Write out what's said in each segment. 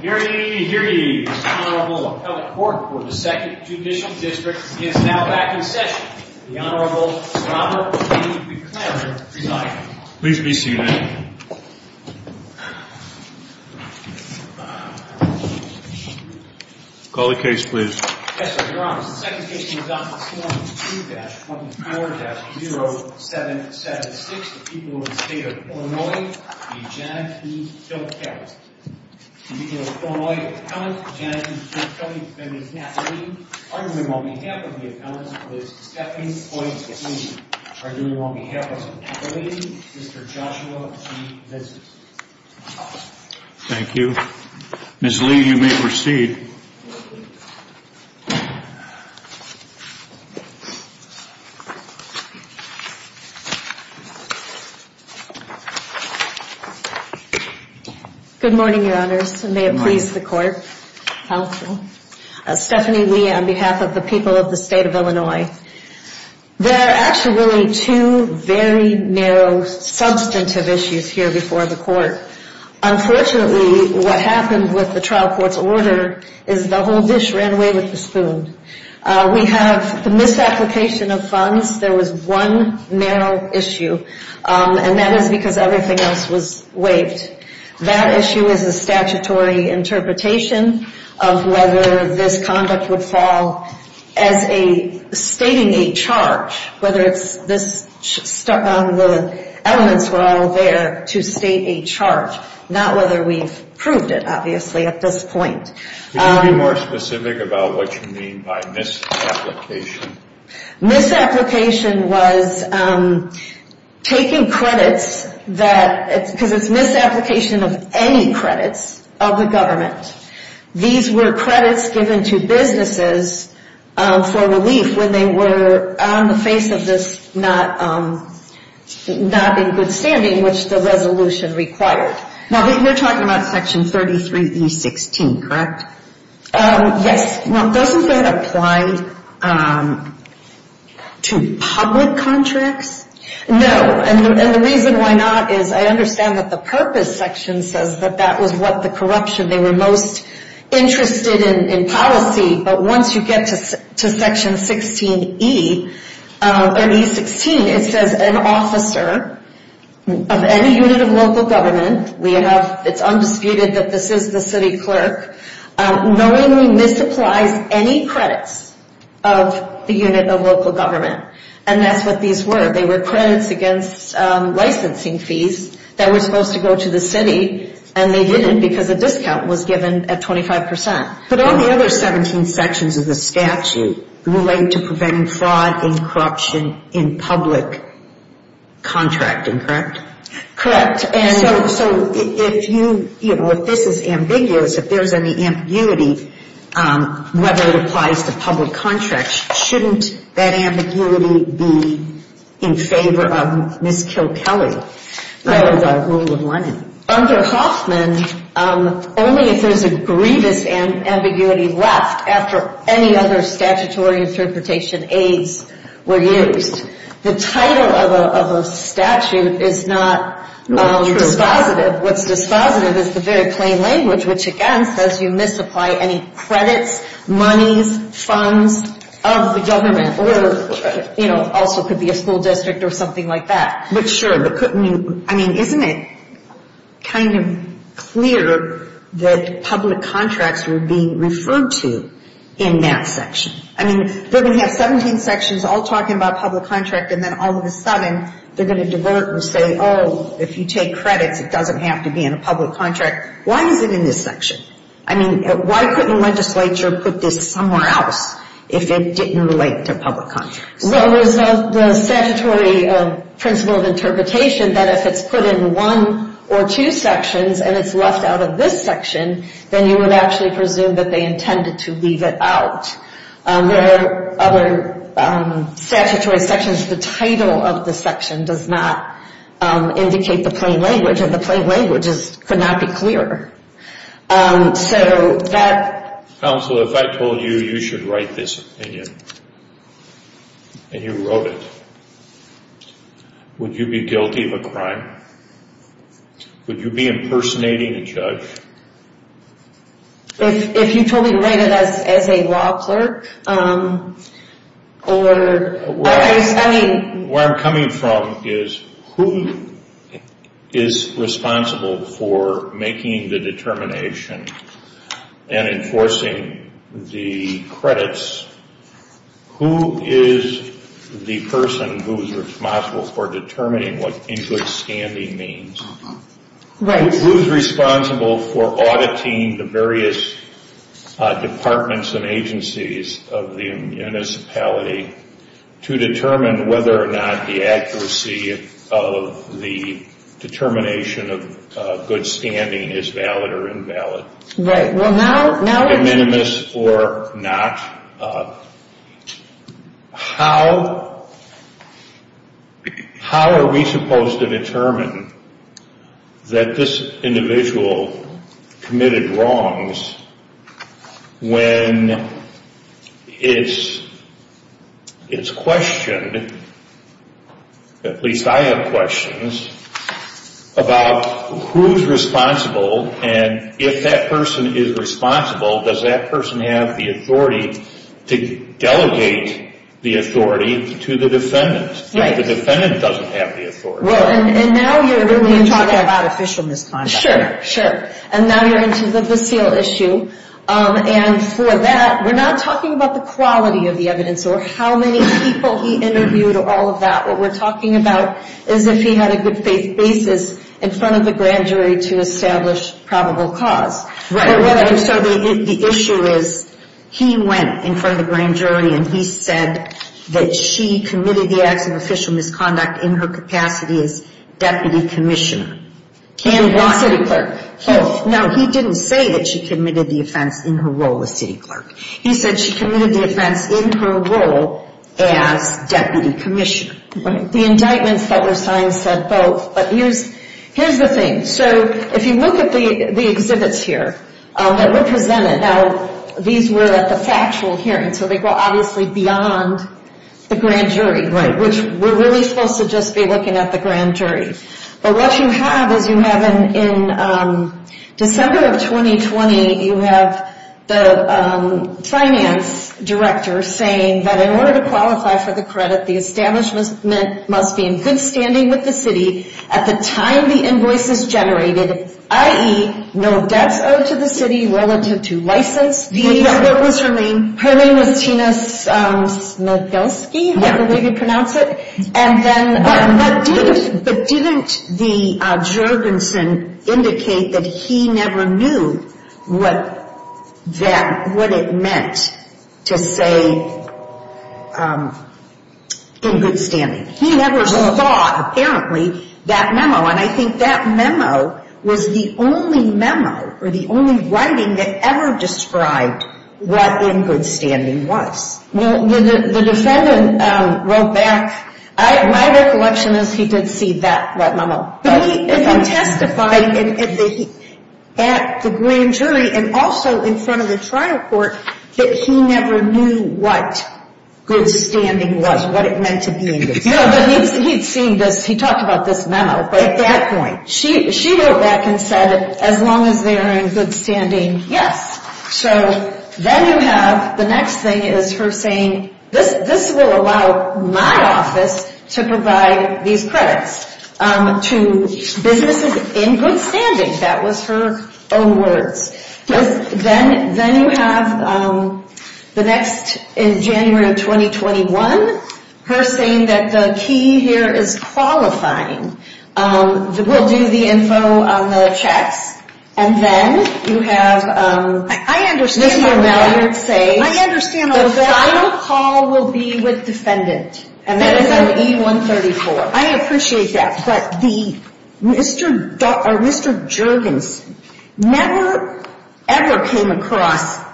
Here he is, the Honorable Appellate Court for the 2nd Judicial District. He is now back in session. The Honorable Robert E. McLaren presiding. Pleased to be seated. Call the case, please. Yes, Your Honor, the second case we will adopt this morning is 2-24-0776, the people of the State of Illinois v. Janet E. Kilkelly. The people of the Illinois Appellate, Janet E. Kilkelly, and Ms. Natalie, arguing on behalf of the Appellants, please step in and point to me. Arguing on behalf of Natalie, Mr. Joshua E. Vinson. Thank you. Ms. Lee, you may proceed. Good morning, Your Honors, and may it please the Court. Stephanie Lee on behalf of the people of the State of Illinois. There are actually two very narrow substantive issues here before the Court. Unfortunately, what happened with the trial court's order is the whole dish ran away with the spoon. We have the misapplication of funds, there was one narrow issue, and that is because everything else was waived. That issue is a statutory interpretation of whether this conduct would fall as stating a charge, whether the elements were all there to state a charge. Not whether we've proved it, obviously, at this point. Can you be more specific about what you mean by misapplication? Misapplication was taking credits, because it's misapplication of any credits, of the government. These were credits given to businesses for relief when they were on the face of this not in good standing, which the resolution required. Now, we're talking about Section 33E16, correct? Yes, now doesn't that apply to public contracts? No, and the reason why not is I understand that the purpose section says that that was what the corruption, they were most interested in policy. But once you get to Section 16E, or E16, it says an officer of any unit of local government, it's undisputed that this is the city clerk, knowingly misapplies any credits of the unit of local government. And that's what these were, they were credits against licensing fees that were supposed to go to the city, and they didn't because a discount was given at 25%. But all the other 17 sections of the statute relate to preventing fraud and corruption in public contracting, correct? Correct. And so if you, you know, if this is ambiguous, if there's any ambiguity, whether it applies to public contracts, shouldn't that ambiguity be in favor of Ms. Kilkelly, the rule in Lennon? Under Hoffman, only if there's a grievous ambiguity left after any other statutory interpretation aids were used. The title of a statute is not dispositive. What's dispositive is the very plain language, which again says you misapply any credits, monies, funds of the government. Or, you know, also could be a school district or something like that. But sure, but couldn't you, I mean, isn't it kind of clear that public contracts were being referred to in that section? I mean, they're going to have 17 sections all talking about public contract, and then all of a sudden they're going to divert and say, oh, if you take credits, it doesn't have to be in a public contract. Why is it in this section? I mean, why couldn't legislature put this somewhere else if it didn't relate to public contracts? Well, there's the statutory principle of interpretation that if it's put in one or two sections and it's left out of this section, then you would actually presume that they intended to leave it out. There are other statutory sections. The title of the section does not indicate the plain language, and the plain language could not be clear. So that- Counsel, if I told you you should write this opinion and you wrote it, would you be guilty of a crime? Would you be impersonating a judge? If you told me to write it as a law clerk or- Where I'm coming from is who is responsible for making the determination and enforcing the credits? Who is the person who is responsible for determining what in good standing means? Who is responsible for auditing the various departments and agencies of the municipality to determine whether or not the accuracy of the determination of good standing is valid or invalid? Right. Well, now- Minimus or not, how are we supposed to determine that this individual committed wrongs when it's questioned, at least I have questions, about who's responsible and if that person is responsible, does that person have the authority to delegate the authority to the defendant? Right. If the defendant doesn't have the authority. And now you're really talking about official misconduct. Sure, sure. And now you're into the Vaseal issue. And for that, we're not talking about the quality of the evidence or how many people he interviewed or all of that. What we're talking about is if he had a good faith basis in front of the grand jury to establish probable cause. Right. So the issue is he went in front of the grand jury and he said that she committed the acts of official misconduct in her capacity as deputy commissioner. And what? Both. Now, he didn't say that she committed the offense in her role as city clerk. He said she committed the offense in her role as deputy commissioner. Right. The indictments that were signed said both, but here's the thing. So if you look at the exhibits here that were presented, now these were at the factual hearing, so they go obviously beyond the grand jury. Right. Which we're really supposed to just be looking at the grand jury. But what you have is you have in December of 2020, you have the finance director saying that in order to qualify for the credit, the establishment must be in good standing with the city at the time the invoice is generated, i.e. no debts owed to the city relative to license fees. Her name was Tina Smigelski, I believe you pronounce it. But didn't the Jurgensen indicate that he never knew what it meant to say in good standing? He never saw, apparently, that memo. And I think that memo was the only memo or the only writing that ever described what in good standing was. Well, the defendant wrote back. My recollection is he did see that memo. But he testified at the grand jury and also in front of the trial court that he never knew what good standing was, what it meant to be in good standing. No, but he'd seen this. He talked about this memo. At that point. She wrote back and said as long as they are in good standing, yes. So then you have the next thing is her saying this. This will allow my office to provide these credits to businesses in good standing. That was her own words. Then then you have the next in January of 2021. Her saying that the key here is qualifying. We'll do the info on the checks. And then you have. I understand. Say, I understand. The final call will be with defendant. And that is an E-134. I appreciate that. But the Mr. Jurgensen never ever came across.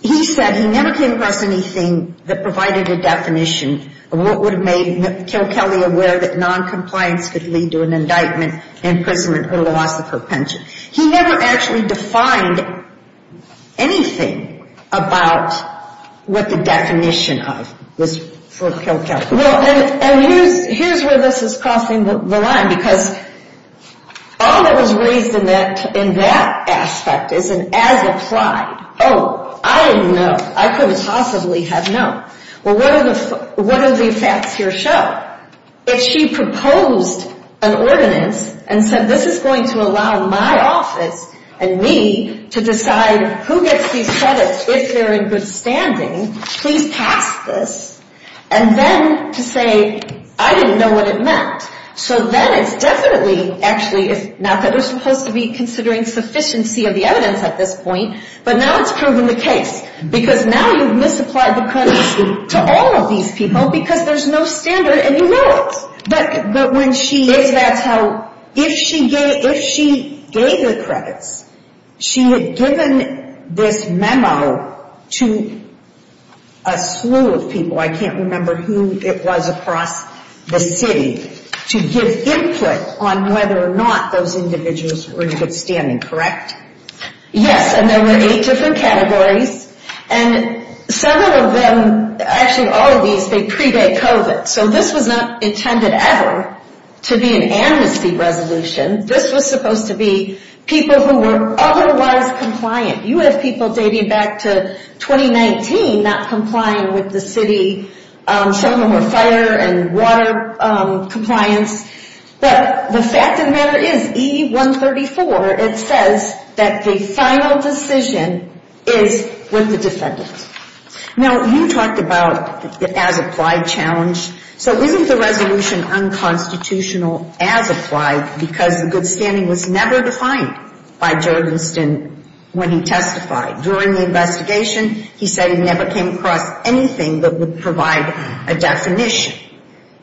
He said he never came across anything that provided a definition of what would have made Kilkelly aware that noncompliance could lead to an indictment, imprisonment, or the loss of her pension. He never actually defined anything about what the definition of was for Kilkelly. Here's where this is crossing the line. Because all that was raised in that in that aspect is an as applied. Oh, I didn't know. I couldn't possibly have known. Well, what are the what are the facts here show? If she proposed an ordinance and said this is going to allow my office and me to decide who gets these credits. If they're in good standing, please pass this. And then to say, I didn't know what it meant. So then it's definitely actually not that they're supposed to be considering sufficiency of the evidence at this point. But now it's proven the case. Because now you've misapplied the credits to all of these people because there's no standard and you know it. But when she is, that's how if she gave if she gave the credits, she had given this memo to a slew of people. I can't remember who it was across the city to give input on whether or not those individuals were in good standing. Correct? Yes. And there were eight different categories. And several of them, actually all of these, they predate COVID. So this was not intended ever to be an amnesty resolution. This was supposed to be people who were otherwise compliant. You have people dating back to 2019 not complying with the city. Some of them were fire and water compliance. But the fact of the matter is E-134, it says that the final decision is with the defendant. Now, you talked about the as-applied challenge. So isn't the resolution unconstitutional as-applied because the good standing was never defined by Jerry Winston when he testified? During the investigation, he said he never came across anything that would provide a definition.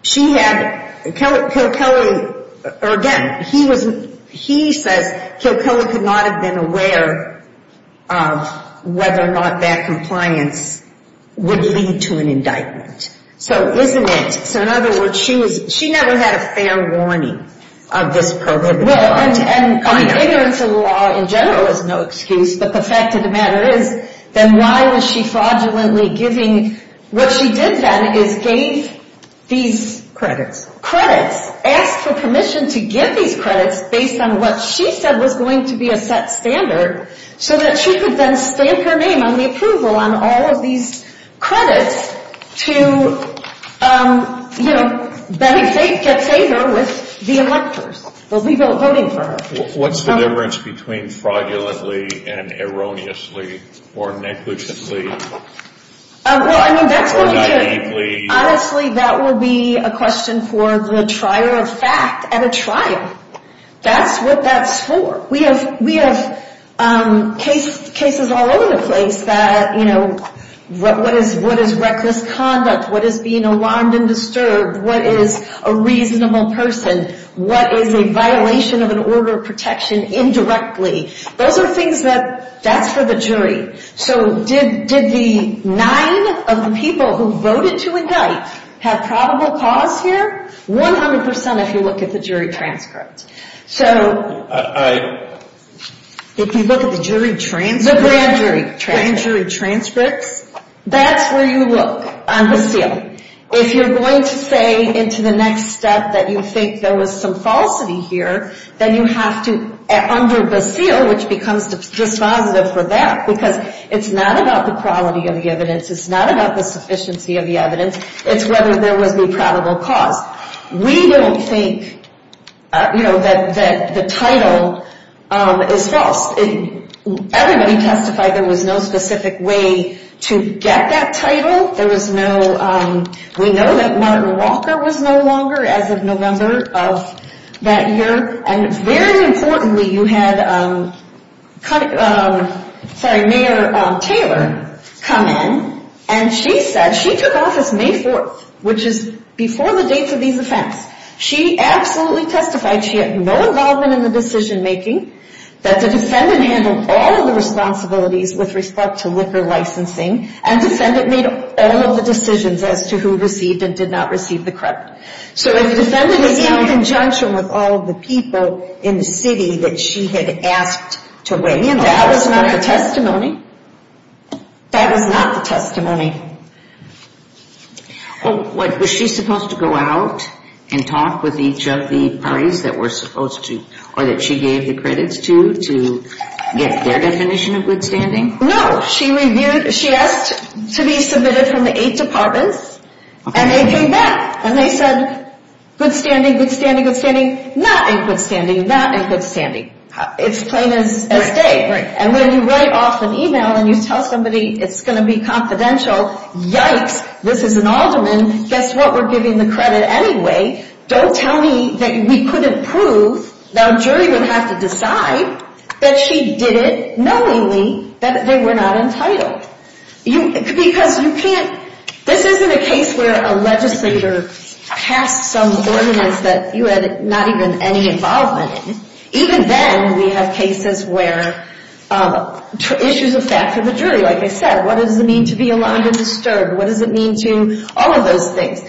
She had, Kilkelly, or again, he says Kilkelly could not have been aware of whether or not that compliance would lead to an indictment. So isn't it, so in other words, she never had a fair warning of this prohibitive law. Well, and ignorance of the law in general is no excuse, but the fact of the matter is, then why was she fraudulently giving, what she did then is gave these credits, credits, asked for permission to give these credits based on what she said was going to be a set standard so that she could then stamp her name on the approval on all of these credits to, you know, get favor with the electors. They'll be voting for her. What's the difference between fraudulently and erroneously or negligently? Well, I mean, that's going to be, honestly, that will be a question for the trier of fact at a trial. That's what that's for. We have cases all over the place that, you know, what is reckless conduct? What is being alarmed and disturbed? What is a reasonable person? What is a violation of an order of protection indirectly? Those are things that, that's for the jury. So did the nine of the people who voted to indict have probable cause here? One hundred percent if you look at the jury transcripts. So if you look at the jury transcripts, the grand jury transcripts, that's where you look on the seal. If you're going to say into the next step that you think there was some falsity here, then you have to, under the seal, which becomes dispositive for that, because it's not about the quality of the evidence. It's not about the sufficiency of the evidence. It's whether there was any probable cause. We don't think, you know, that the title is false. Everybody testified there was no specific way to get that title. There was no, we know that Martin Walker was no longer as of November of that year. And very importantly, you had, sorry, Mayor Taylor come in, and she said she took office May 4th, which is before the dates of these events. She absolutely testified she had no involvement in the decision making, that the defendant handled all of the responsibilities with respect to liquor licensing, and the defendant made all of the decisions as to who received and did not receive the credit. So if the defendant was in conjunction with all of the people in the city that she had asked to weigh in, that was not the testimony. That was not the testimony. Well, what, was she supposed to go out and talk with each of the parties that were supposed to, or that she gave the credits to, to get their definition of good standing? No, she reviewed, she asked to be submitted from the eight departments, and they came back. And they said, good standing, good standing, good standing. Not in good standing, not in good standing. It's plain as day. Right, right. And when you write off an email and you tell somebody it's going to be confidential, yikes, this is an alderman. Guess what? We're giving the credit anyway. Don't tell me that we couldn't prove, Now a jury would have to decide that she did it knowingly, that they were not entitled. Because you can't, this isn't a case where a legislator passed some ordinance that you had not even any involvement in. Even then, we have cases where issues of fact for the jury, like I said, what does it mean to be alarmed and disturbed? What does it mean to, all of those things.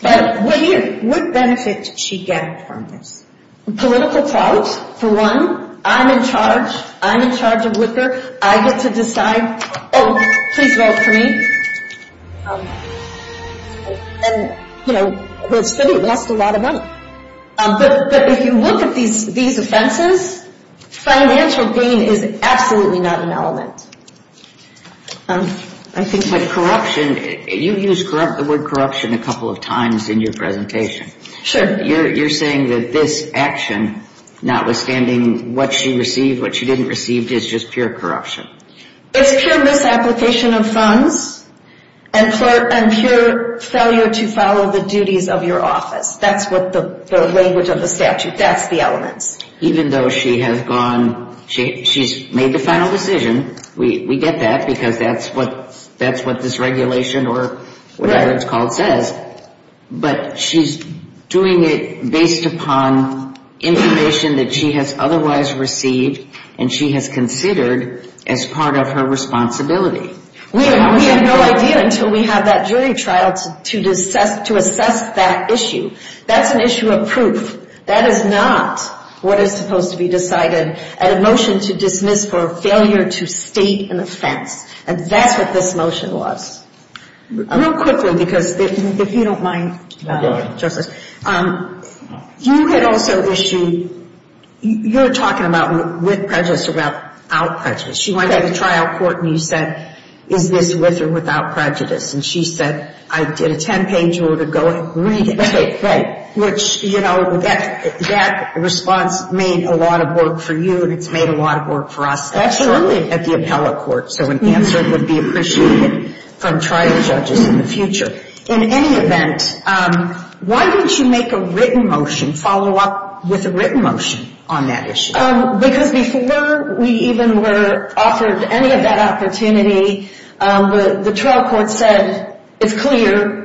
What benefit did she get from this? Political problems, for one. I'm in charge. I'm in charge of Whitaker. I get to decide, oh, please vote for me. And, you know, the city lost a lot of money. But if you look at these offenses, financial gain is absolutely not an element. I think with corruption, you used the word corruption a couple of times in your presentation. Sure. You're saying that this action, notwithstanding what she received, what she didn't receive, is just pure corruption. It's pure misapplication of funds and pure failure to follow the duties of your office. That's what the language of the statute, that's the elements. Even though she has gone, she's made the final decision. We get that because that's what this regulation or whatever it's called says. But she's doing it based upon information that she has otherwise received and she has considered as part of her responsibility. We have no idea until we have that jury trial to assess that issue. That's an issue of proof. That is not what is supposed to be decided at a motion to dismiss for failure to state an offense. And that's what this motion was. Real quickly, because if you don't mind, Justice, you had also issued, you were talking about with prejudice or without prejudice. She went to the trial court and you said, is this with or without prejudice? And she said, I did a 10-page order, go ahead and read it. Which, you know, that response made a lot of work for you and it's made a lot of work for us shortly at the appellate court. So an answer would be appreciated from trial judges in the future. In any event, why didn't you make a written motion, follow up with a written motion on that issue? Because before we even were offered any of that opportunity, the trial court said, it's clear.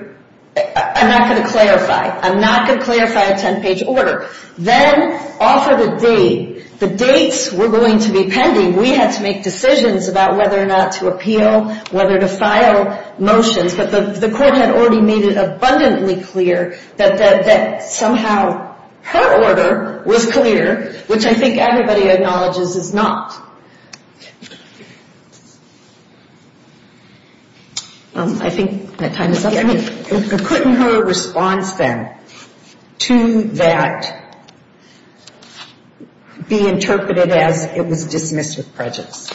I'm not going to clarify. I'm not going to clarify a 10-page order. Then offer the date. The dates were going to be pending. We had to make decisions about whether or not to appeal, whether to file motions. But the court had already made it abundantly clear that somehow her order was clear, which I think everybody acknowledges is not. I think that time is up. Couldn't her response then to that be interpreted as it was dismissed with prejudice?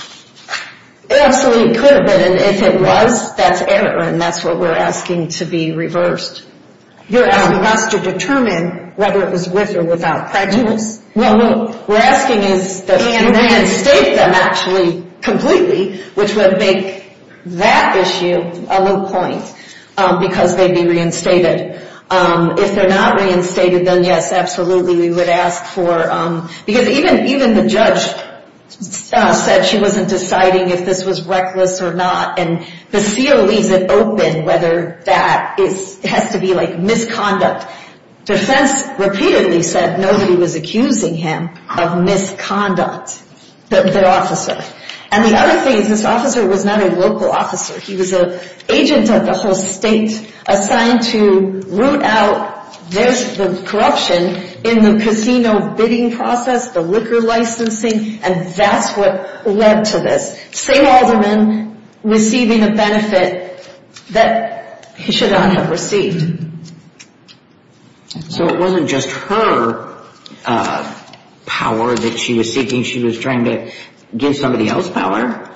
It absolutely could have been. And if it was, that's error. And that's what we're asking to be reversed. You're asking us to determine whether it was with or without prejudice? No, no. We're asking is that you reinstate them actually completely, which would make that issue a low point because they'd be reinstated. If they're not reinstated, then yes, absolutely. Because even the judge said she wasn't deciding if this was reckless or not. And the CO leaves it open whether that has to be like misconduct. Defense repeatedly said nobody was accusing him of misconduct, their officer. And the other thing is this officer was not a local officer. He was an agent of the whole state assigned to root out the corruption in the casino bidding process, the liquor licensing, and that's what led to this. St. Alderman receiving a benefit that he should not have received. So it wasn't just her power that she was seeking. She was trying to give somebody else power.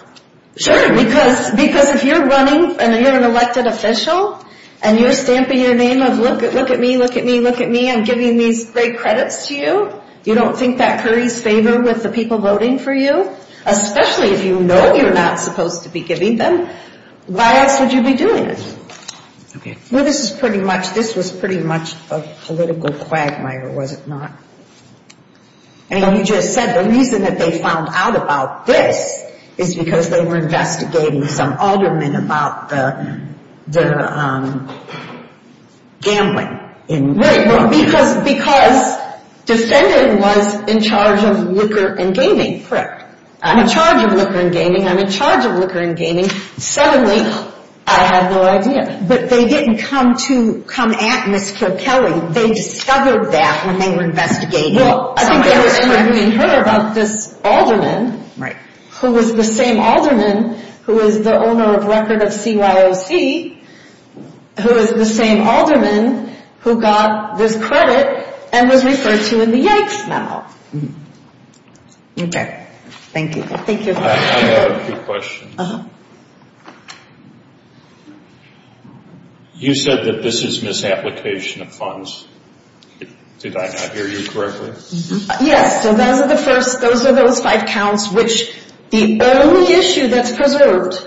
Sure, because if you're running and you're an elected official and you're stamping your name of look at me, look at me, look at me, I'm giving these great credits to you, you don't think that carries favor with the people voting for you? Especially if you know you're not supposed to be giving them. Why else would you be doing it? This was pretty much a political quagmire, was it not? And you just said the reason that they found out about this is because they were investigating some alderman about the gambling. Right, because defendant was in charge of liquor and gaming. Correct. I'm in charge of liquor and gaming, I'm in charge of liquor and gaming. Suddenly I had no idea. But they didn't come to come at Ms. Kilkelly. They discovered that when they were investigating. Well, I think that was true. We heard about this alderman who was the same alderman who was the owner of record of CYOC, who was the same alderman who got this credit and was referred to in the Yanks memo. Okay, thank you. Thank you. I have a few questions. Uh-huh. You said that this is misapplication of funds. Did I not hear you correctly? Yes, so those are the first, those are those five counts which the only issue that's preserved,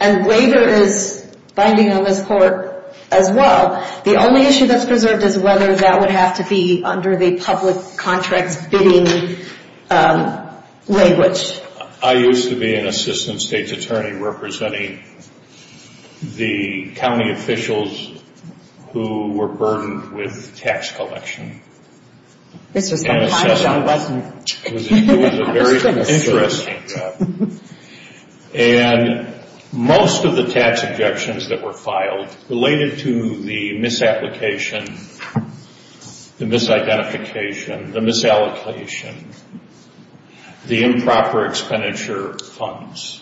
and waiver is binding on this court as well, the only issue that's preserved is whether that would have to be under the public contracts bidding language. I used to be an assistant state's attorney representing the county officials who were burdened with tax collection. This was the final job, wasn't it? It was a very interesting job. And most of the tax objections that were filed related to the misapplication, the misidentification, the misallocation, the improper expenditure of funds.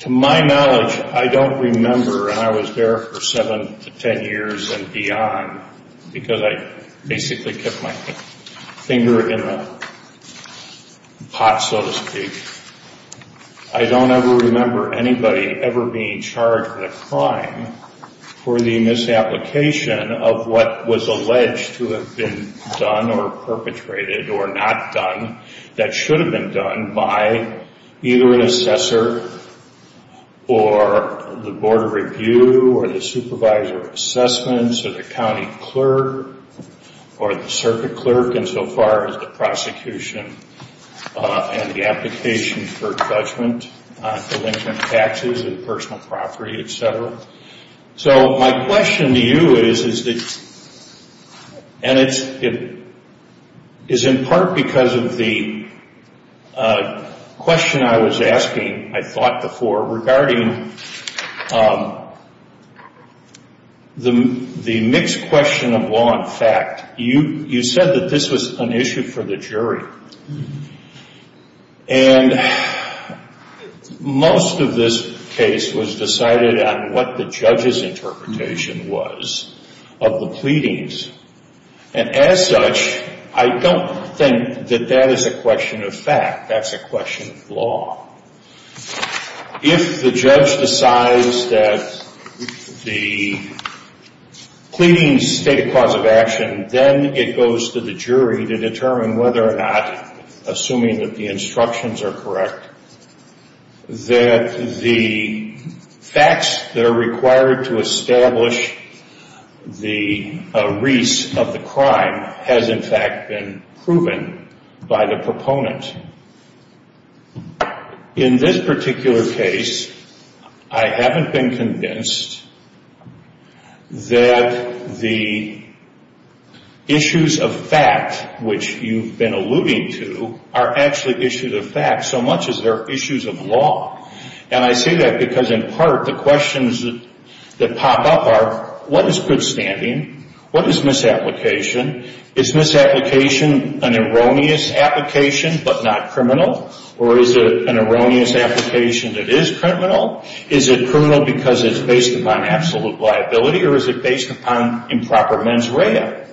To my knowledge, I don't remember, and I was there for seven to ten years and beyond, because I basically kept my finger in the pot, so to speak, I don't ever remember anybody ever being charged with a crime for the misapplication of what was alleged to have been done or perpetrated or not done that should have been done by either an assessor or the board of review or the supervisor of assessments or the county clerk or the circuit clerk insofar as the prosecution and the application for judgment on delinquent taxes and personal property, et cetera. So my question to you is, and it's in part because of the question I was asking, I thought before, regarding the mixed question of law and fact. You said that this was an issue for the jury. And most of this case was decided on what the judge's interpretation was of the pleadings. And as such, I don't think that that is a question of fact. That's a question of law. If the judge decides that the pleadings state a cause of action, and then it goes to the jury to determine whether or not, assuming that the instructions are correct, that the facts that are required to establish the wreaths of the crime has in fact been proven by the proponent. In this particular case, I haven't been convinced that the issues of fact, which you've been alluding to, are actually issues of fact so much as they're issues of law. And I say that because in part the questions that pop up are, what is good standing? What is misapplication? Is misapplication an erroneous application but not criminal? Or is it an erroneous application that is criminal? Is it criminal because it's based upon absolute liability, or is it based upon improper mens rea?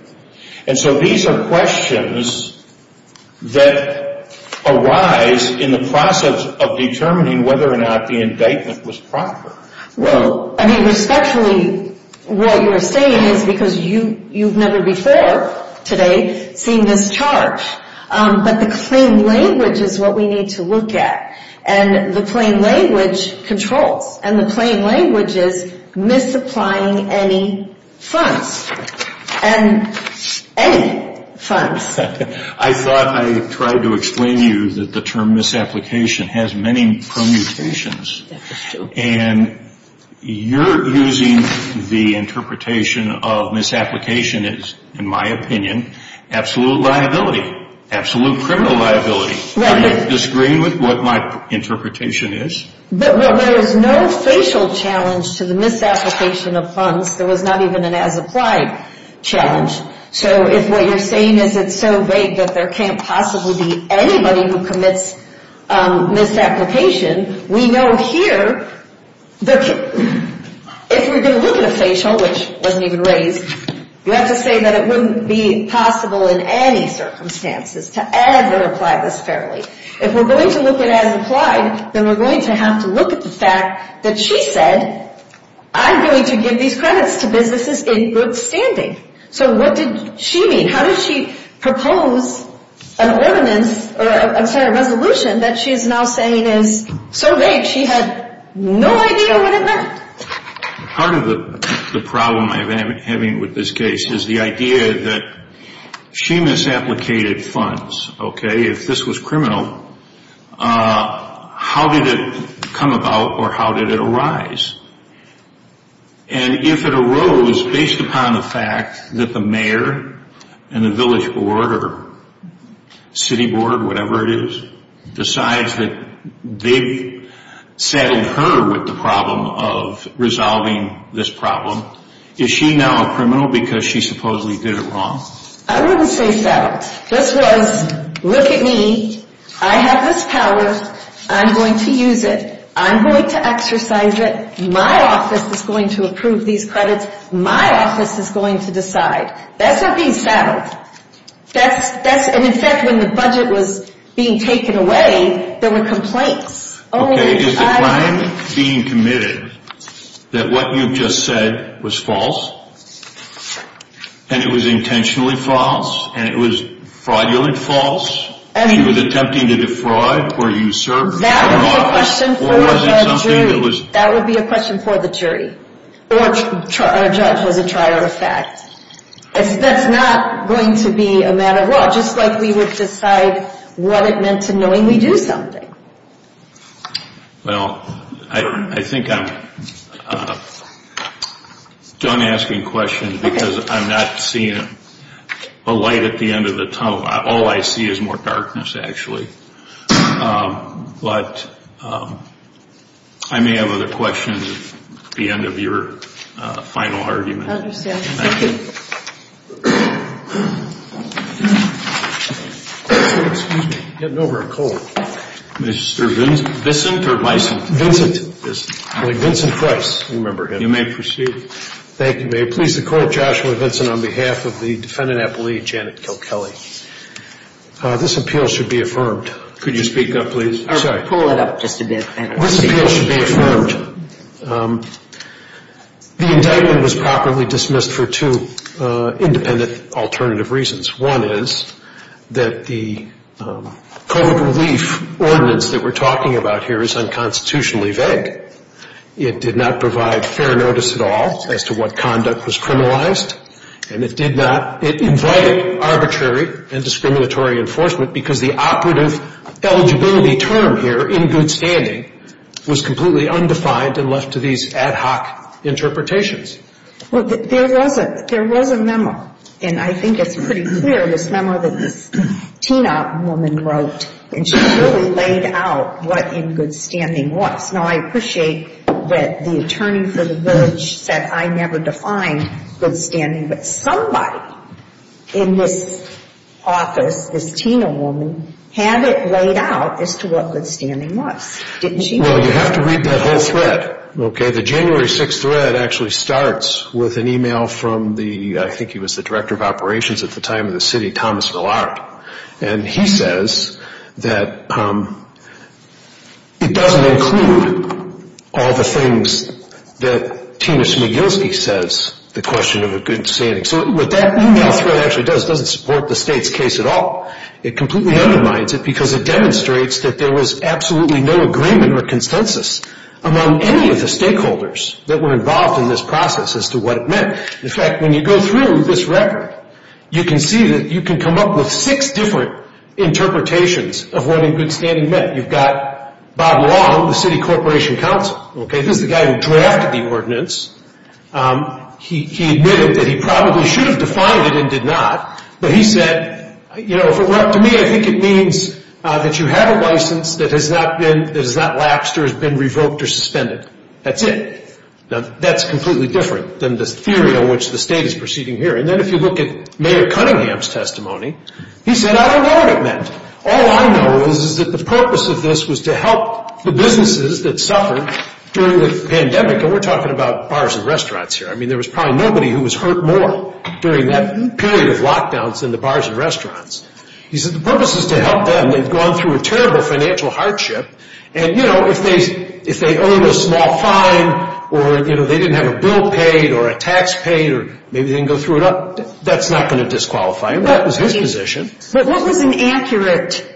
And so these are questions that arise in the process of determining whether or not the indictment was proper. Well, I mean, respectfully, what you're saying is because you've never before today seen this charge. But the plain language is what we need to look at. And the plain language controls. And the plain language is misapplying any funds. And any funds. I thought I tried to explain to you that the term misapplication has many permutations. And you're using the interpretation of misapplication as, in my opinion, absolute liability. Absolute criminal liability. Do you disagree with what my interpretation is? But there is no facial challenge to the misapplication of funds. There was not even an as-applied challenge. So if what you're saying is it's so vague that there can't possibly be anybody who commits misapplication, we know here that if we're going to look at a facial, which wasn't even raised, you have to say that it wouldn't be possible in any circumstances to ever apply this fairly. If we're going to look at as-applied, then we're going to have to look at the fact that she said, I'm going to give these credits to businesses in good standing. So what did she mean? How did she propose an ordinance or, I'm sorry, a resolution that she is now saying is so vague she had no idea what it meant? Part of the problem I'm having with this case is the idea that she misapplicated funds, okay? If this was criminal, how did it come about or how did it arise? And if it arose based upon the fact that the mayor and the village board or city board, whatever it is, decides that they've settled her with the problem of resolving this problem, is she now a criminal because she supposedly did it wrong? I wouldn't say so. This was, look at me, I have this power, I'm going to use it, I'm going to exercise it, my office is going to approve these credits, my office is going to decide. That's her being saddled. And in fact, when the budget was being taken away, there were complaints. Okay, is the crime being committed that what you've just said was false? And it was intentionally false? And it was fraudulently false? She was attempting to defraud where you served? That would be a question for the jury. Or our judge was a trier of fact. That's not going to be a matter of law, just like we would decide what it meant to knowing we do something. Well, I think I'm done asking questions because I'm not seeing a light at the end of the tunnel. All I see is more darkness, actually. But I may have other questions at the end of your final argument. I understand. Thank you. Excuse me, I'm getting over a cold. Mr. Vincent? Vincent Price, I remember him. You may proceed. Thank you. May it please the Court, Joshua Vincent on behalf of the defendant appellee, Janet Kilkelly. This appeal should be affirmed. Could you speak up, please? Pull it up just a bit. This appeal should be affirmed. The indictment was properly dismissed for two independent alternative reasons. One is that the COVID relief ordinance that we're talking about here is unconstitutionally vague. It did not provide fair notice at all as to what conduct was criminalized. And it invited arbitrary and discriminatory enforcement because the operative eligibility term here, in good standing, was completely undefined and left to these ad hoc interpretations. There was a memo, and I think it's pretty clear, this memo that this teen-op woman wrote. And she really laid out what in good standing was. Now, I appreciate that the attorney for the village said I never defined good standing, but somebody in this office, this teen-op woman, had it laid out as to what good standing was. Didn't she? Well, you have to read that whole thread, okay? The January 6th thread actually starts with an email from the, I think he was the director of operations at the time of the city, Thomas Villard. And he says that it doesn't include all the things that Tina Smigielski says, the question of a good standing. So what that email thread actually does, it doesn't support the state's case at all. It completely undermines it because it demonstrates that there was absolutely no agreement or consensus among any of the stakeholders that were involved in this process as to what it meant. In fact, when you go through this record, you can see that you can come up with six different interpretations of what in good standing meant. You've got Bob Long, the city corporation counsel. This is the guy who drafted the ordinance. He admitted that he probably should have defined it and did not. But he said, you know, if it were up to me, I think it means that you have a license that has not lapsed or has been revoked or suspended. That's it. Now, that's completely different than the theory on which the state is proceeding here. And then if you look at Mayor Cunningham's testimony, he said, I don't know what it meant. All I know is that the purpose of this was to help the businesses that suffered during the pandemic. And we're talking about bars and restaurants here. I mean, there was probably nobody who was hurt more during that period of lockdowns than the bars and restaurants. He said the purpose is to help them. They've gone through a terrible financial hardship. And, you know, if they earned a small fine or, you know, they didn't have a bill paid or a tax paid, or maybe they didn't go through enough, that's not going to disqualify them. That was his position. But what was inaccurate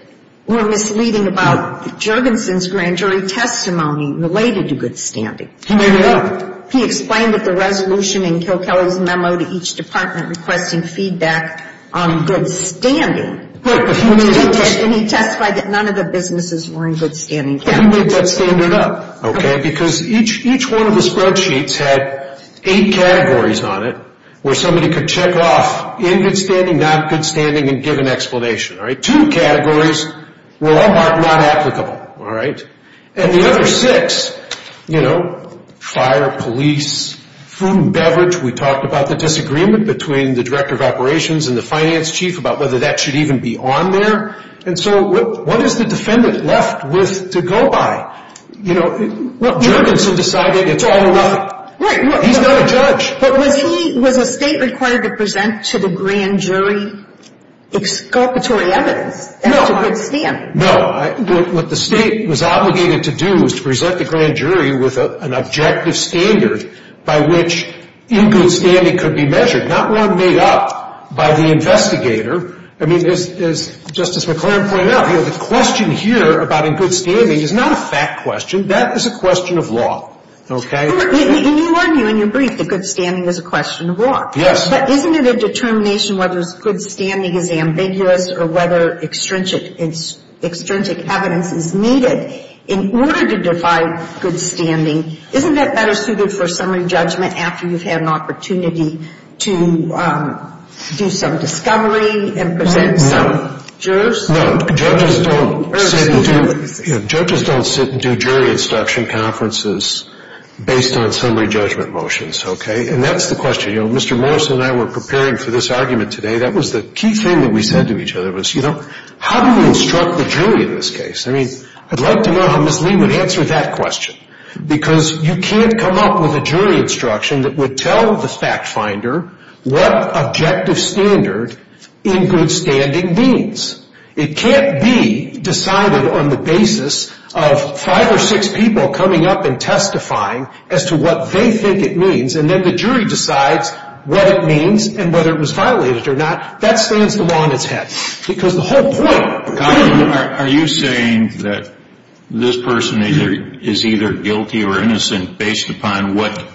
or misleading about Jurgensen's grand jury testimony related to good standing? He made it up. He explained that the resolution in Kilkelly's memo to each department requesting feedback on good standing. And he testified that none of the businesses were in good standing. He made that standard up, okay, because each one of the spreadsheets had eight categories on it where somebody could check off in good standing, not good standing, and give an explanation. All right? Two categories were unmarked, not applicable. All right? And the other six, you know, fire, police, food and beverage. We talked about the disagreement between the director of operations and the finance chief about whether that should even be on there. And so what is the defendant left with to go by? You know, Jurgensen decided it's all or nothing. Right. He's not a judge. But was he, was the state required to present to the grand jury exculpatory evidence as to good standing? No. What the state was obligated to do was to present the grand jury with an objective standard by which in good standing could be measured, not one made up by the investigator. I mean, as Justice McClaren pointed out, the question here about in good standing is not a fact question. That is a question of law. Okay? You argue in your brief that good standing is a question of law. Yes. But isn't it a determination whether good standing is ambiguous or whether extrinsic evidence is needed in order to define good standing? Isn't that better suited for summary judgment after you've had an opportunity to do some discovery and present some? No. Judges don't sit and do jury instruction conferences based on summary judgment motions. Okay? And that's the question. Mr. Morrison and I were preparing for this argument today. That was the key thing that we said to each other was, you know, how do we instruct the jury in this case? I mean, I'd like to know how Ms. Lee would answer that question because you can't come up with a jury instruction that would tell the fact finder what objective standard in good standing means. It can't be decided on the basis of five or six people coming up and testifying as to what they think it means and then the jury decides what it means and whether it was violated or not. That stands the law in its head. Because the whole point of good standing... Are you saying that this person is either guilty or innocent based upon what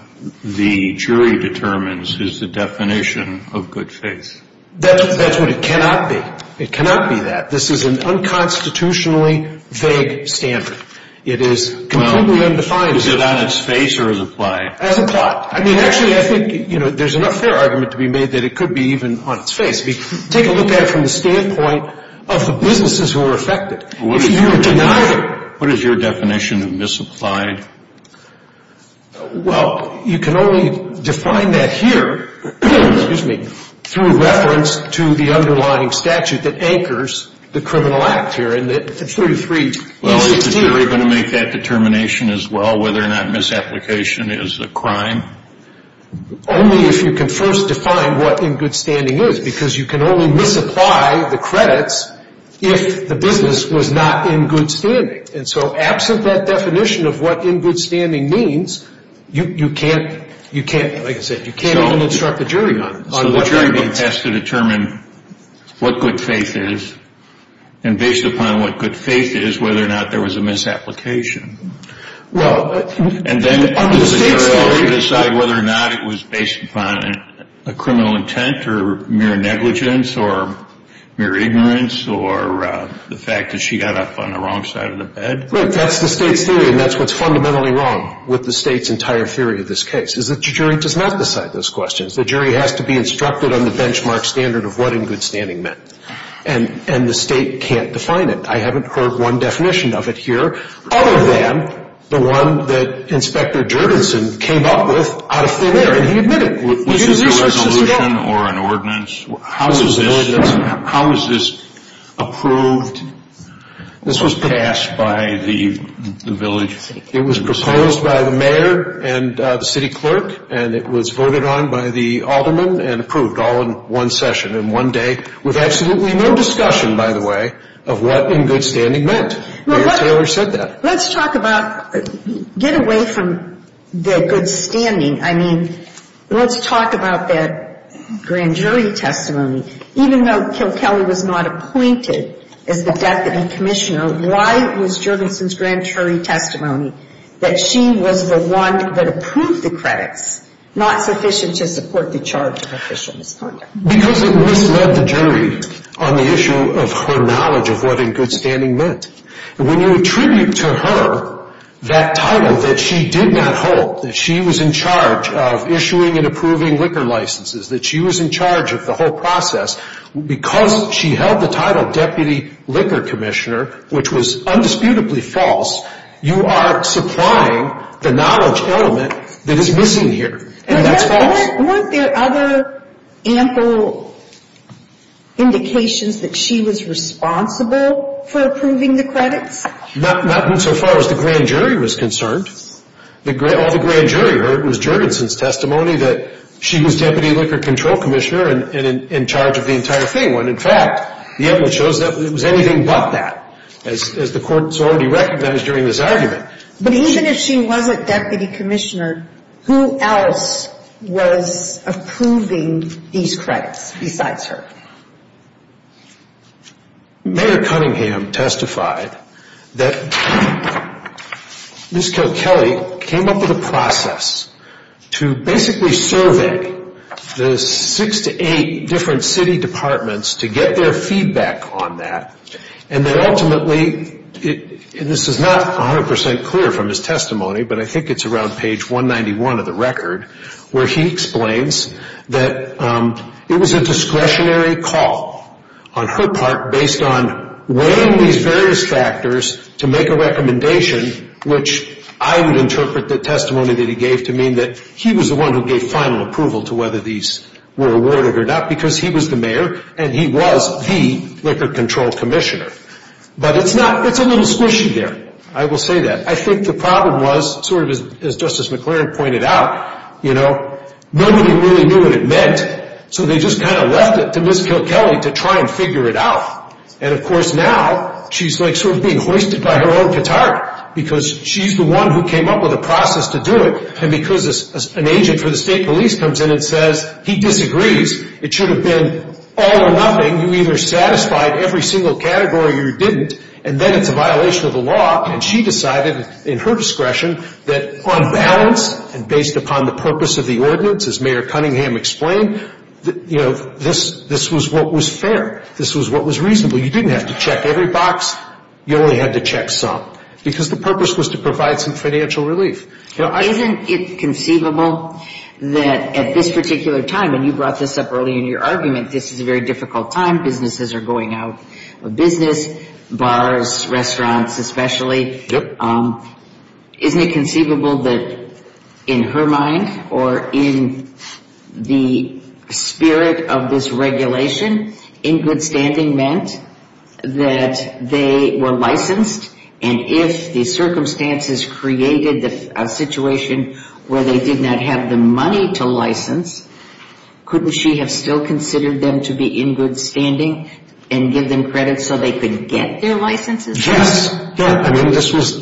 the jury determines is the definition of good faith? That's what it cannot be. It cannot be that. This is an unconstitutionally vague standard. It is completely undefined. Is it on its face or as a plot? As a plot. I mean, actually, I think, you know, there's enough fair argument to be made that it could be even on its face. I mean, take a look at it from the standpoint of the businesses who are affected. If you deny it... What is your definition of misapplied? Well, you can only define that here, excuse me, through reference to the underlying statute that anchors the criminal act here. Well, is the jury going to make that determination as well, whether or not misapplication is a crime? Only if you can first define what in good standing is, because you can only misapply the credits if the business was not in good standing. And so absent that definition of what in good standing means, you can't, like I said, you can't even instruct the jury on it. So the jury has to determine what good faith is, and based upon what good faith is, whether or not there was a misapplication. And then does the jury decide whether or not it was based upon a criminal intent or mere negligence or mere ignorance or the fact that she got up on the wrong side of the bed? Right. That's the state's theory, and that's what's fundamentally wrong with the state's entire theory of this case, is that the jury does not decide those questions. The jury has to be instructed on the benchmark standard of what in good standing meant. And the state can't define it. I haven't heard one definition of it here other than the one that Inspector Jurgensen came up with out of thin air, and he admitted it. Was this a resolution or an ordinance? How is this approved or passed by the village? It was proposed by the mayor and the city clerk, and it was voted on by the aldermen and approved all in one session in one day, with absolutely no discussion, by the way, of what in good standing meant. Mayor Taylor said that. Let's talk about, get away from the good standing. I mean, let's talk about that grand jury testimony. Even though Kilkelly was not appointed as the deputy commissioner, why was Jurgensen's grand jury testimony that she was the one that approved the credits, not sufficient to support the charge of official misconduct? Because it misled the jury on the issue of her knowledge of what in good standing meant. And when you attribute to her that title that she did not hold, that she was in charge of issuing and approving liquor licenses, that she was in charge of the whole process, because she held the title deputy liquor commissioner, which was undisputably false, you are supplying the knowledge element that is missing here, and that's false. And weren't there other ample indications that she was responsible for approving the credits? Not insofar as the grand jury was concerned. All the grand jury heard was Jurgensen's testimony that she was deputy liquor control commissioner and in charge of the entire thing, when, in fact, the evidence shows that it was anything but that, as the court has already recognized during this argument. But even if she wasn't deputy commissioner, who else was approving these credits besides her? Mayor Cunningham testified that Ms. Kilkelly came up with a process to basically survey the six to eight different city departments to get their feedback on that, and that ultimately, and this is not 100% clear from his testimony, but I think it's around page 191 of the record, where he explains that it was a discretionary call on her part based on weighing these various factors to make a recommendation, which I would interpret the testimony that he gave to mean that he was the one who gave final approval to whether these were awarded or not, because he was the mayor and he was the liquor control commissioner. But it's a little squishy there, I will say that. I think the problem was, sort of as Justice McClaren pointed out, you know, nobody really knew what it meant, so they just kind of left it to Ms. Kilkelly to try and figure it out. And, of course, now she's sort of being hoisted by her own catarct, because she's the one who came up with a process to do it, and because an agent for the state police comes in and says he disagrees, it should have been all or nothing. You either satisfied every single category or you didn't, and then it's a violation of the law, and she decided in her discretion that on balance and based upon the purpose of the ordinance, as Mayor Cunningham explained, you know, this was what was fair. This was what was reasonable. You didn't have to check every box. You only had to check some, because the purpose was to provide some financial relief. Isn't it conceivable that at this particular time, and you brought this up early in your argument, this is a very difficult time, businesses are going out of business, bars, restaurants especially. Yep. Isn't it conceivable that in her mind or in the spirit of this regulation, in good standing meant that they were licensed, and if the circumstances created a situation where they did not have the money to license, couldn't she have still considered them to be in good standing and give them credit so they could get their licenses? Yes. Yeah. I mean, this was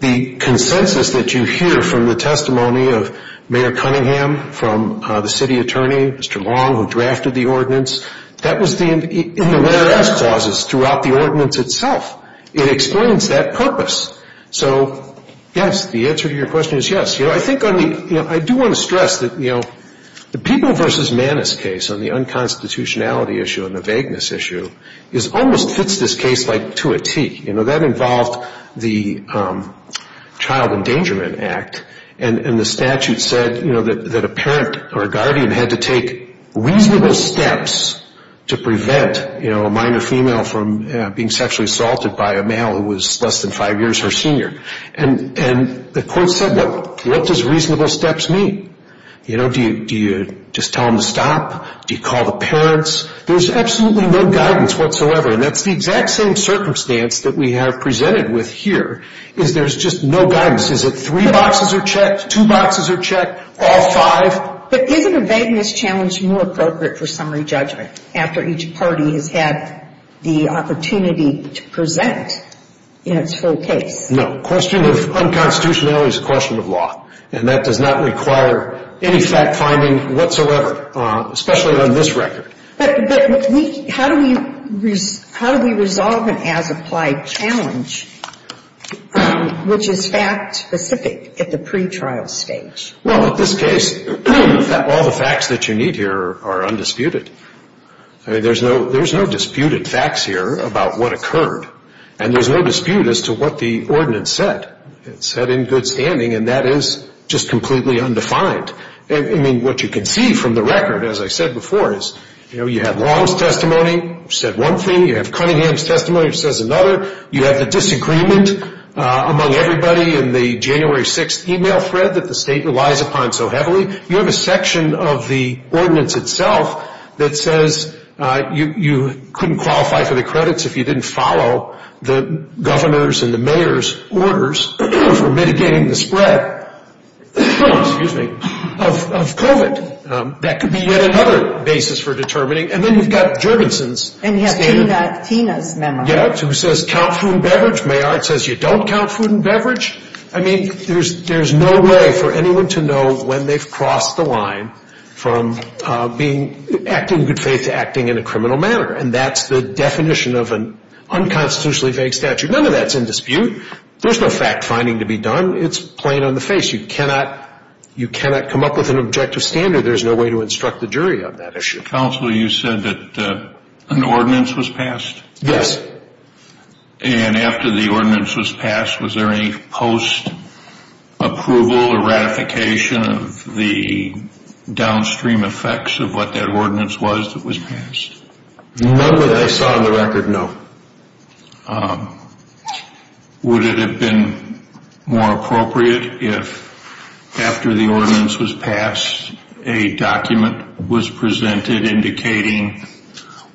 the consensus that you hear from the testimony of Mayor Cunningham, from the city attorney, Mr. Long, who drafted the ordinance. That was in the whereas clauses throughout the ordinance itself. It explains that purpose. So, yes, the answer to your question is yes. You know, I think on the ‑‑ you know, I do want to stress that, you know, the People v. Manus case on the unconstitutionality issue and the vagueness issue almost fits this case like to a tee. You know, that involved the Child Endangerment Act, and the statute said, you know, that a parent or a guardian had to take reasonable steps to prevent, you know, a minor female from being sexually assaulted by a male who was less than five years her senior. And the court said, what does reasonable steps mean? You know, do you just tell them to stop? Do you call the parents? There's absolutely no guidance whatsoever, and that's the exact same circumstance that we have presented with here, is there's just no guidance. Is it three boxes are checked, two boxes are checked, all five? Well, but isn't a vagueness challenge more appropriate for summary judgment after each party has had the opportunity to present in its full case? No. A question of unconstitutionality is a question of law, and that does not require any fact-finding whatsoever, especially on this record. But how do we resolve an as-applied challenge which is fact-specific at the pretrial stage? Well, in this case, all the facts that you need here are undisputed. I mean, there's no disputed facts here about what occurred, and there's no dispute as to what the ordinance said. It said in good standing, and that is just completely undefined. I mean, what you can see from the record, as I said before, is, you know, you have Long's testimony, which said one thing. You have Cunningham's testimony, which says another. You have the disagreement among everybody in the January 6th e-mail thread that the state relies upon so heavily. You have a section of the ordinance itself that says you couldn't qualify for the credits if you didn't follow the governor's and the mayor's orders for mitigating the spread of COVID. That could be yet another basis for determining. And then you've got Jorgensen's statement. And then you've got Tina's memo. Yes, who says count food and beverage. Mayard says you don't count food and beverage. I mean, there's no way for anyone to know when they've crossed the line from acting in good faith to acting in a criminal manner, and that's the definition of an unconstitutionally vague statute. None of that's in dispute. There's no fact-finding to be done. It's plain on the face. You cannot come up with an objective standard. There's no way to instruct the jury on that issue. Mr. Counsel, you said that an ordinance was passed? Yes. And after the ordinance was passed, was there any post-approval or ratification of the downstream effects of what that ordinance was that was passed? None that I saw on the record, no. Would it have been more appropriate if, after the ordinance was passed, a document was presented indicating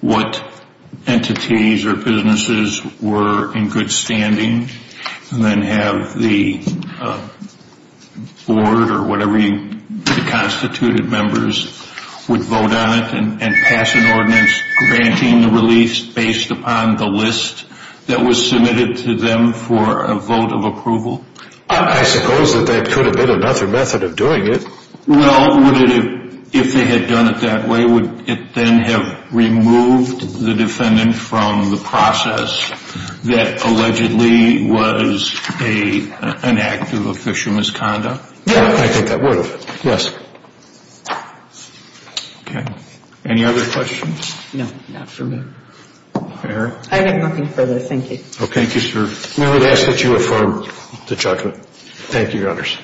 what entities or businesses were in good standing and then have the board or whatever the constituted members would vote on it and pass an ordinance granting the release based upon the list that was submitted to them for a vote of approval? I suppose that that could have been another method of doing it. Well, would it have, if they had done it that way, would it then have removed the defendant from the process that allegedly was an act of official misconduct? I think that would have, yes. Okay. Any other questions? No, not for me. Eric? I have nothing further. Thank you. Okay. Thank you, sir. May I ask that you affirm the judgment? Thank you, Your Honors.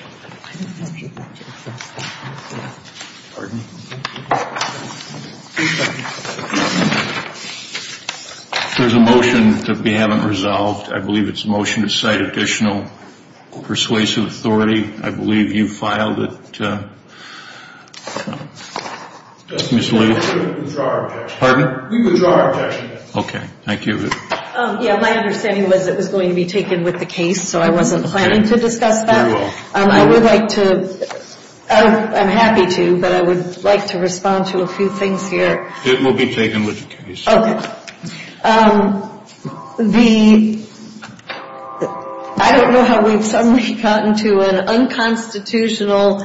There's a motion that we haven't resolved. I believe it's a motion to cite additional persuasive authority. I believe you filed it. Mr. Lee? We withdraw our objection. Pardon? We withdraw our objection. Okay. Thank you. Yeah, my understanding was it was going to be taken with the case, so I wasn't planning to discuss that. I would like to, I'm happy to, but I would like to respond to a few things here. It will be taken with the case. Okay. The, I don't know how we've suddenly gotten to an unconstitutional,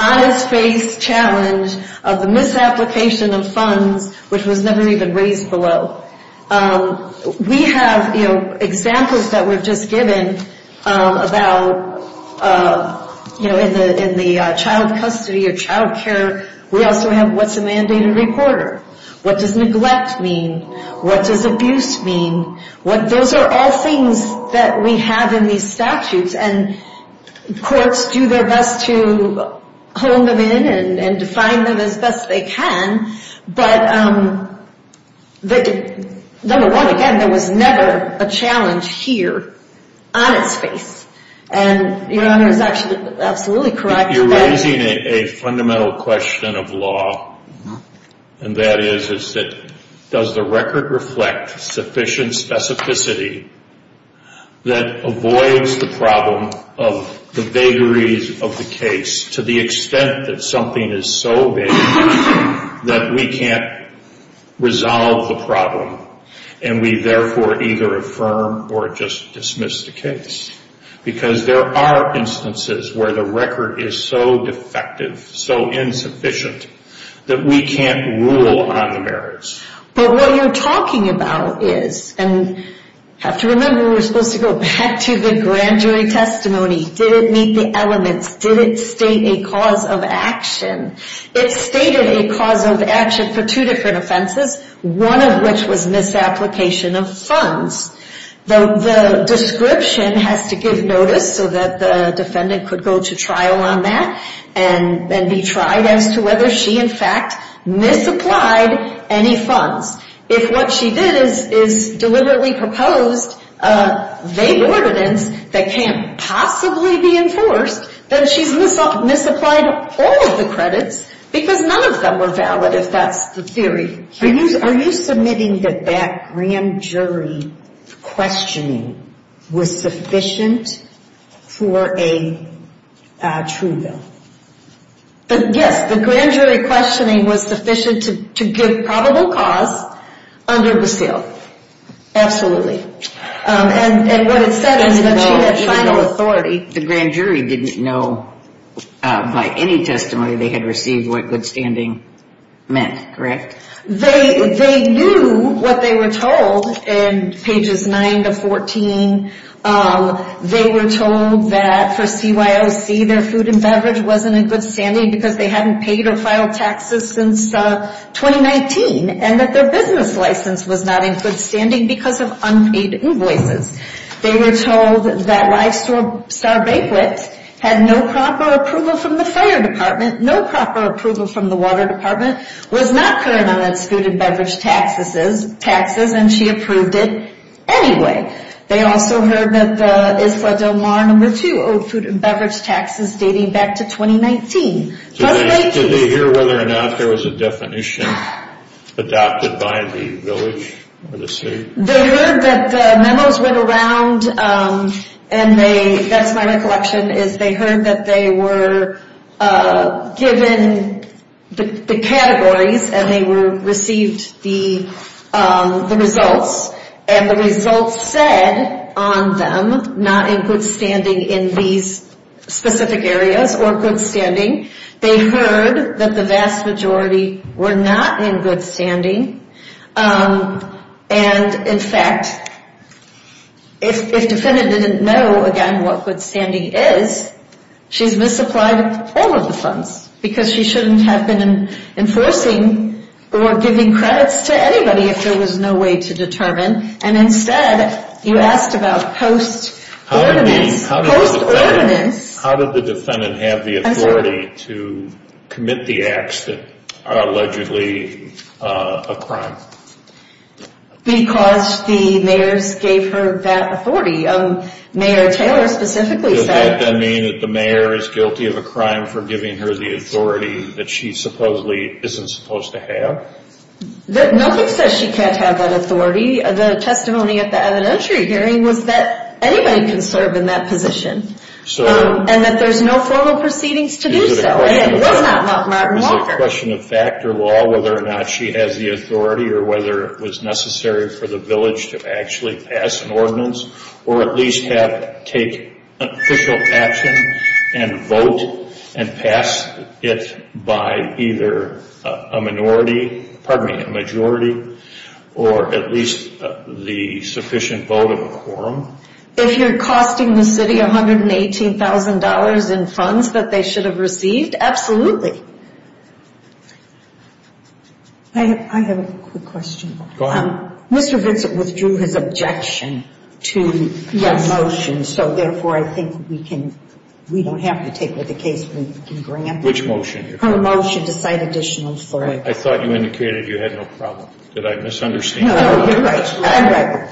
on-his-face challenge of the misapplication of funds, which was never even raised below. We have, you know, examples that were just given about, you know, in the child custody or child care. We also have what's a mandated reporter? What does neglect mean? What does abuse mean? Those are all things that we have in these statutes, and courts do their best to hone them in and define them as best they can, but number one, again, there was never a challenge here on its face, and Your Honor is actually absolutely correct. You're raising a fundamental question of law, and that is that does the record reflect sufficient specificity that avoids the problem of the vagaries of the case to the extent that something is so vague that we can't resolve the problem, and we therefore either affirm or just dismiss the case, because there are instances where the record is so defective, so insufficient, that we can't rule on the merits. But what you're talking about is, and have to remember, we're supposed to go back to the grand jury testimony. Did it meet the elements? Did it state a cause of action? It stated a cause of action for two different offenses, one of which was misapplication of funds. The description has to give notice so that the defendant could go to trial on that and be tried as to whether she, in fact, misapplied any funds. If what she did is deliberately proposed vague ordinance that can't possibly be enforced, then she's misapplied all of the credits because none of them were valid, if that's the theory. Are you submitting that that grand jury questioning was sufficient for a true bill? Yes. The grand jury questioning was sufficient to give probable cause under the seal. Absolutely. And what it said is that she had final authority. The grand jury didn't know by any testimony they had received what good standing meant, correct? They knew what they were told in pages 9 to 14. They were told that for CYOC their food and beverage wasn't in good standing because they hadn't paid or filed taxes since 2019 and that their business license was not in good standing because of unpaid invoices. They were told that Lifestore Star Bakelits had no proper approval from the fire department, no proper approval from the water department, was not current on its food and beverage taxes and she approved it anyway. They also heard that the Isfah-Del-Mar No. 2 owed food and beverage taxes dating back to 2019. Did they hear whether or not there was a definition adopted by the village or the city? They heard that the memos went around and they, that's my recollection, is they heard that they were given the categories and they received the results and the results said on them not in good standing in these specific areas or good standing. They heard that the vast majority were not in good standing and, in fact, if the defendant didn't know, again, what good standing is, she's misapplied all of the funds because she shouldn't have been enforcing or giving credits to anybody if there was no way to determine and instead you asked about post-ordinance, post-ordinance. How did the defendant have the authority to commit the acts that are allegedly a crime? Because the mayors gave her that authority. Mayor Taylor specifically said... Does that then mean that the mayor is guilty of a crime for giving her the authority that she supposedly isn't supposed to have? Nothing says she can't have that authority. The testimony at the evidentiary hearing was that anybody can serve in that position. And that there's no formal proceedings to do so. And it was not Martin Walker. Is it a question of fact or law whether or not she has the authority or whether it was necessary for the village to actually pass an ordinance or at least take official action and vote and pass it by either a majority or at least the sufficient vote of a quorum? If you're costing the city $118,000 in funds that they should have received, absolutely. I have a quick question. Go ahead. Mr. Vincent withdrew his objection to the motion, so therefore I think we don't have to take with the case we can grant. Which motion? Her motion to cite additional... I thought you indicated you had no problem. Did I misunderstand? No, you're right. I'm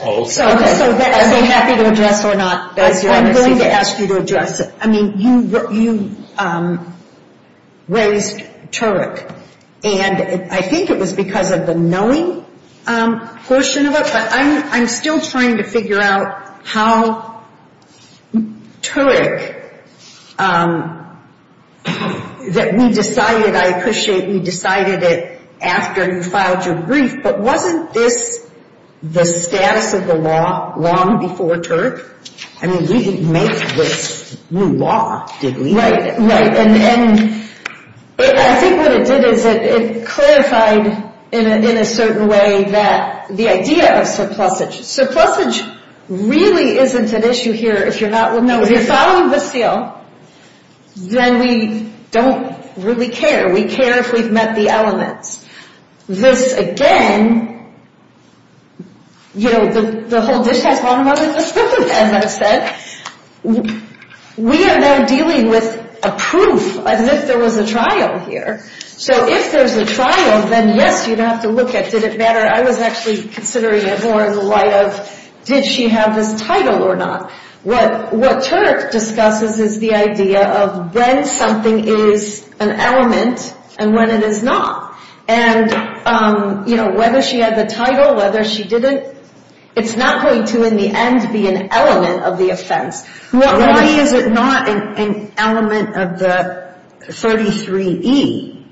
happy to address or not. I'm willing to ask you to address it. I mean, you raised Turek. And I think it was because of the knowing portion of it, but I'm still trying to figure out how Turek that we decided, I appreciate we decided it after you filed your brief, but wasn't this the status of the law long before Turek? I mean, we didn't make this new law, did we? Right, right. And I think what it did is it clarified in a certain way the idea of surplusage. Surplusage really isn't an issue here. If you're following the seal, then we don't really care. We care if we've met the elements. This, again, you know, the whole dish has gone above and beyond, as I said. We are now dealing with a proof as if there was a trial here. So if there's a trial, then yes, you'd have to look at did it matter. I was actually considering it more in the light of did she have this title or not. What Turek discusses is the idea of when something is an element and when it is not. And, you know, whether she had the title, whether she didn't, it's not going to, in the end, be an element of the offense. Why is it not an element of the 33E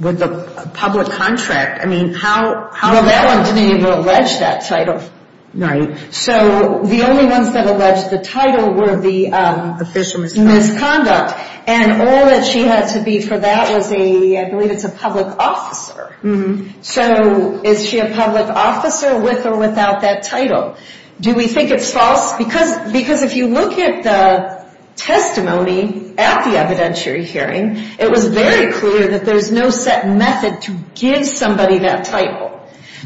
with the public contract? I mean, how… Well, that one didn't even allege that title. So the only ones that alleged the title were the official misconduct. And all that she had to be for that was a, I believe it's a public officer. So is she a public officer with or without that title? Do we think it's false? Because if you look at the testimony at the evidentiary hearing, it was very clear that there's no set method to give somebody that title.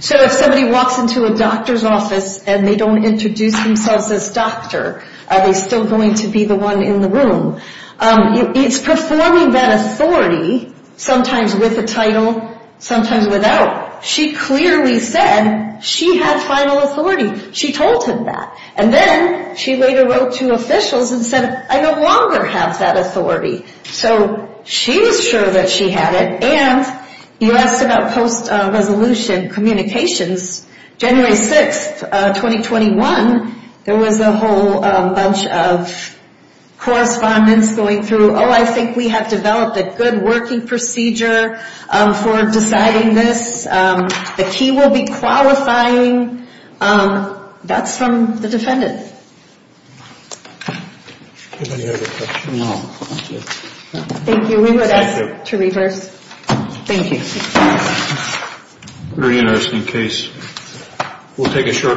So if somebody walks into a doctor's office and they don't introduce themselves as doctor, are they still going to be the one in the room? It's performing that authority, sometimes with a title, sometimes without. She clearly said she had final authority. She told him that. And then she later wrote to officials and said, I no longer have that authority. So she was sure that she had it. And you asked about post-resolution communications. January 6th, 2021, there was a whole bunch of correspondence going through, oh, I think we have developed a good working procedure for deciding this. The key will be qualifying. That's from the defendant. Any other questions? Thank you. We would ask to reverse. Thank you. Very interesting case. We'll take a short recess.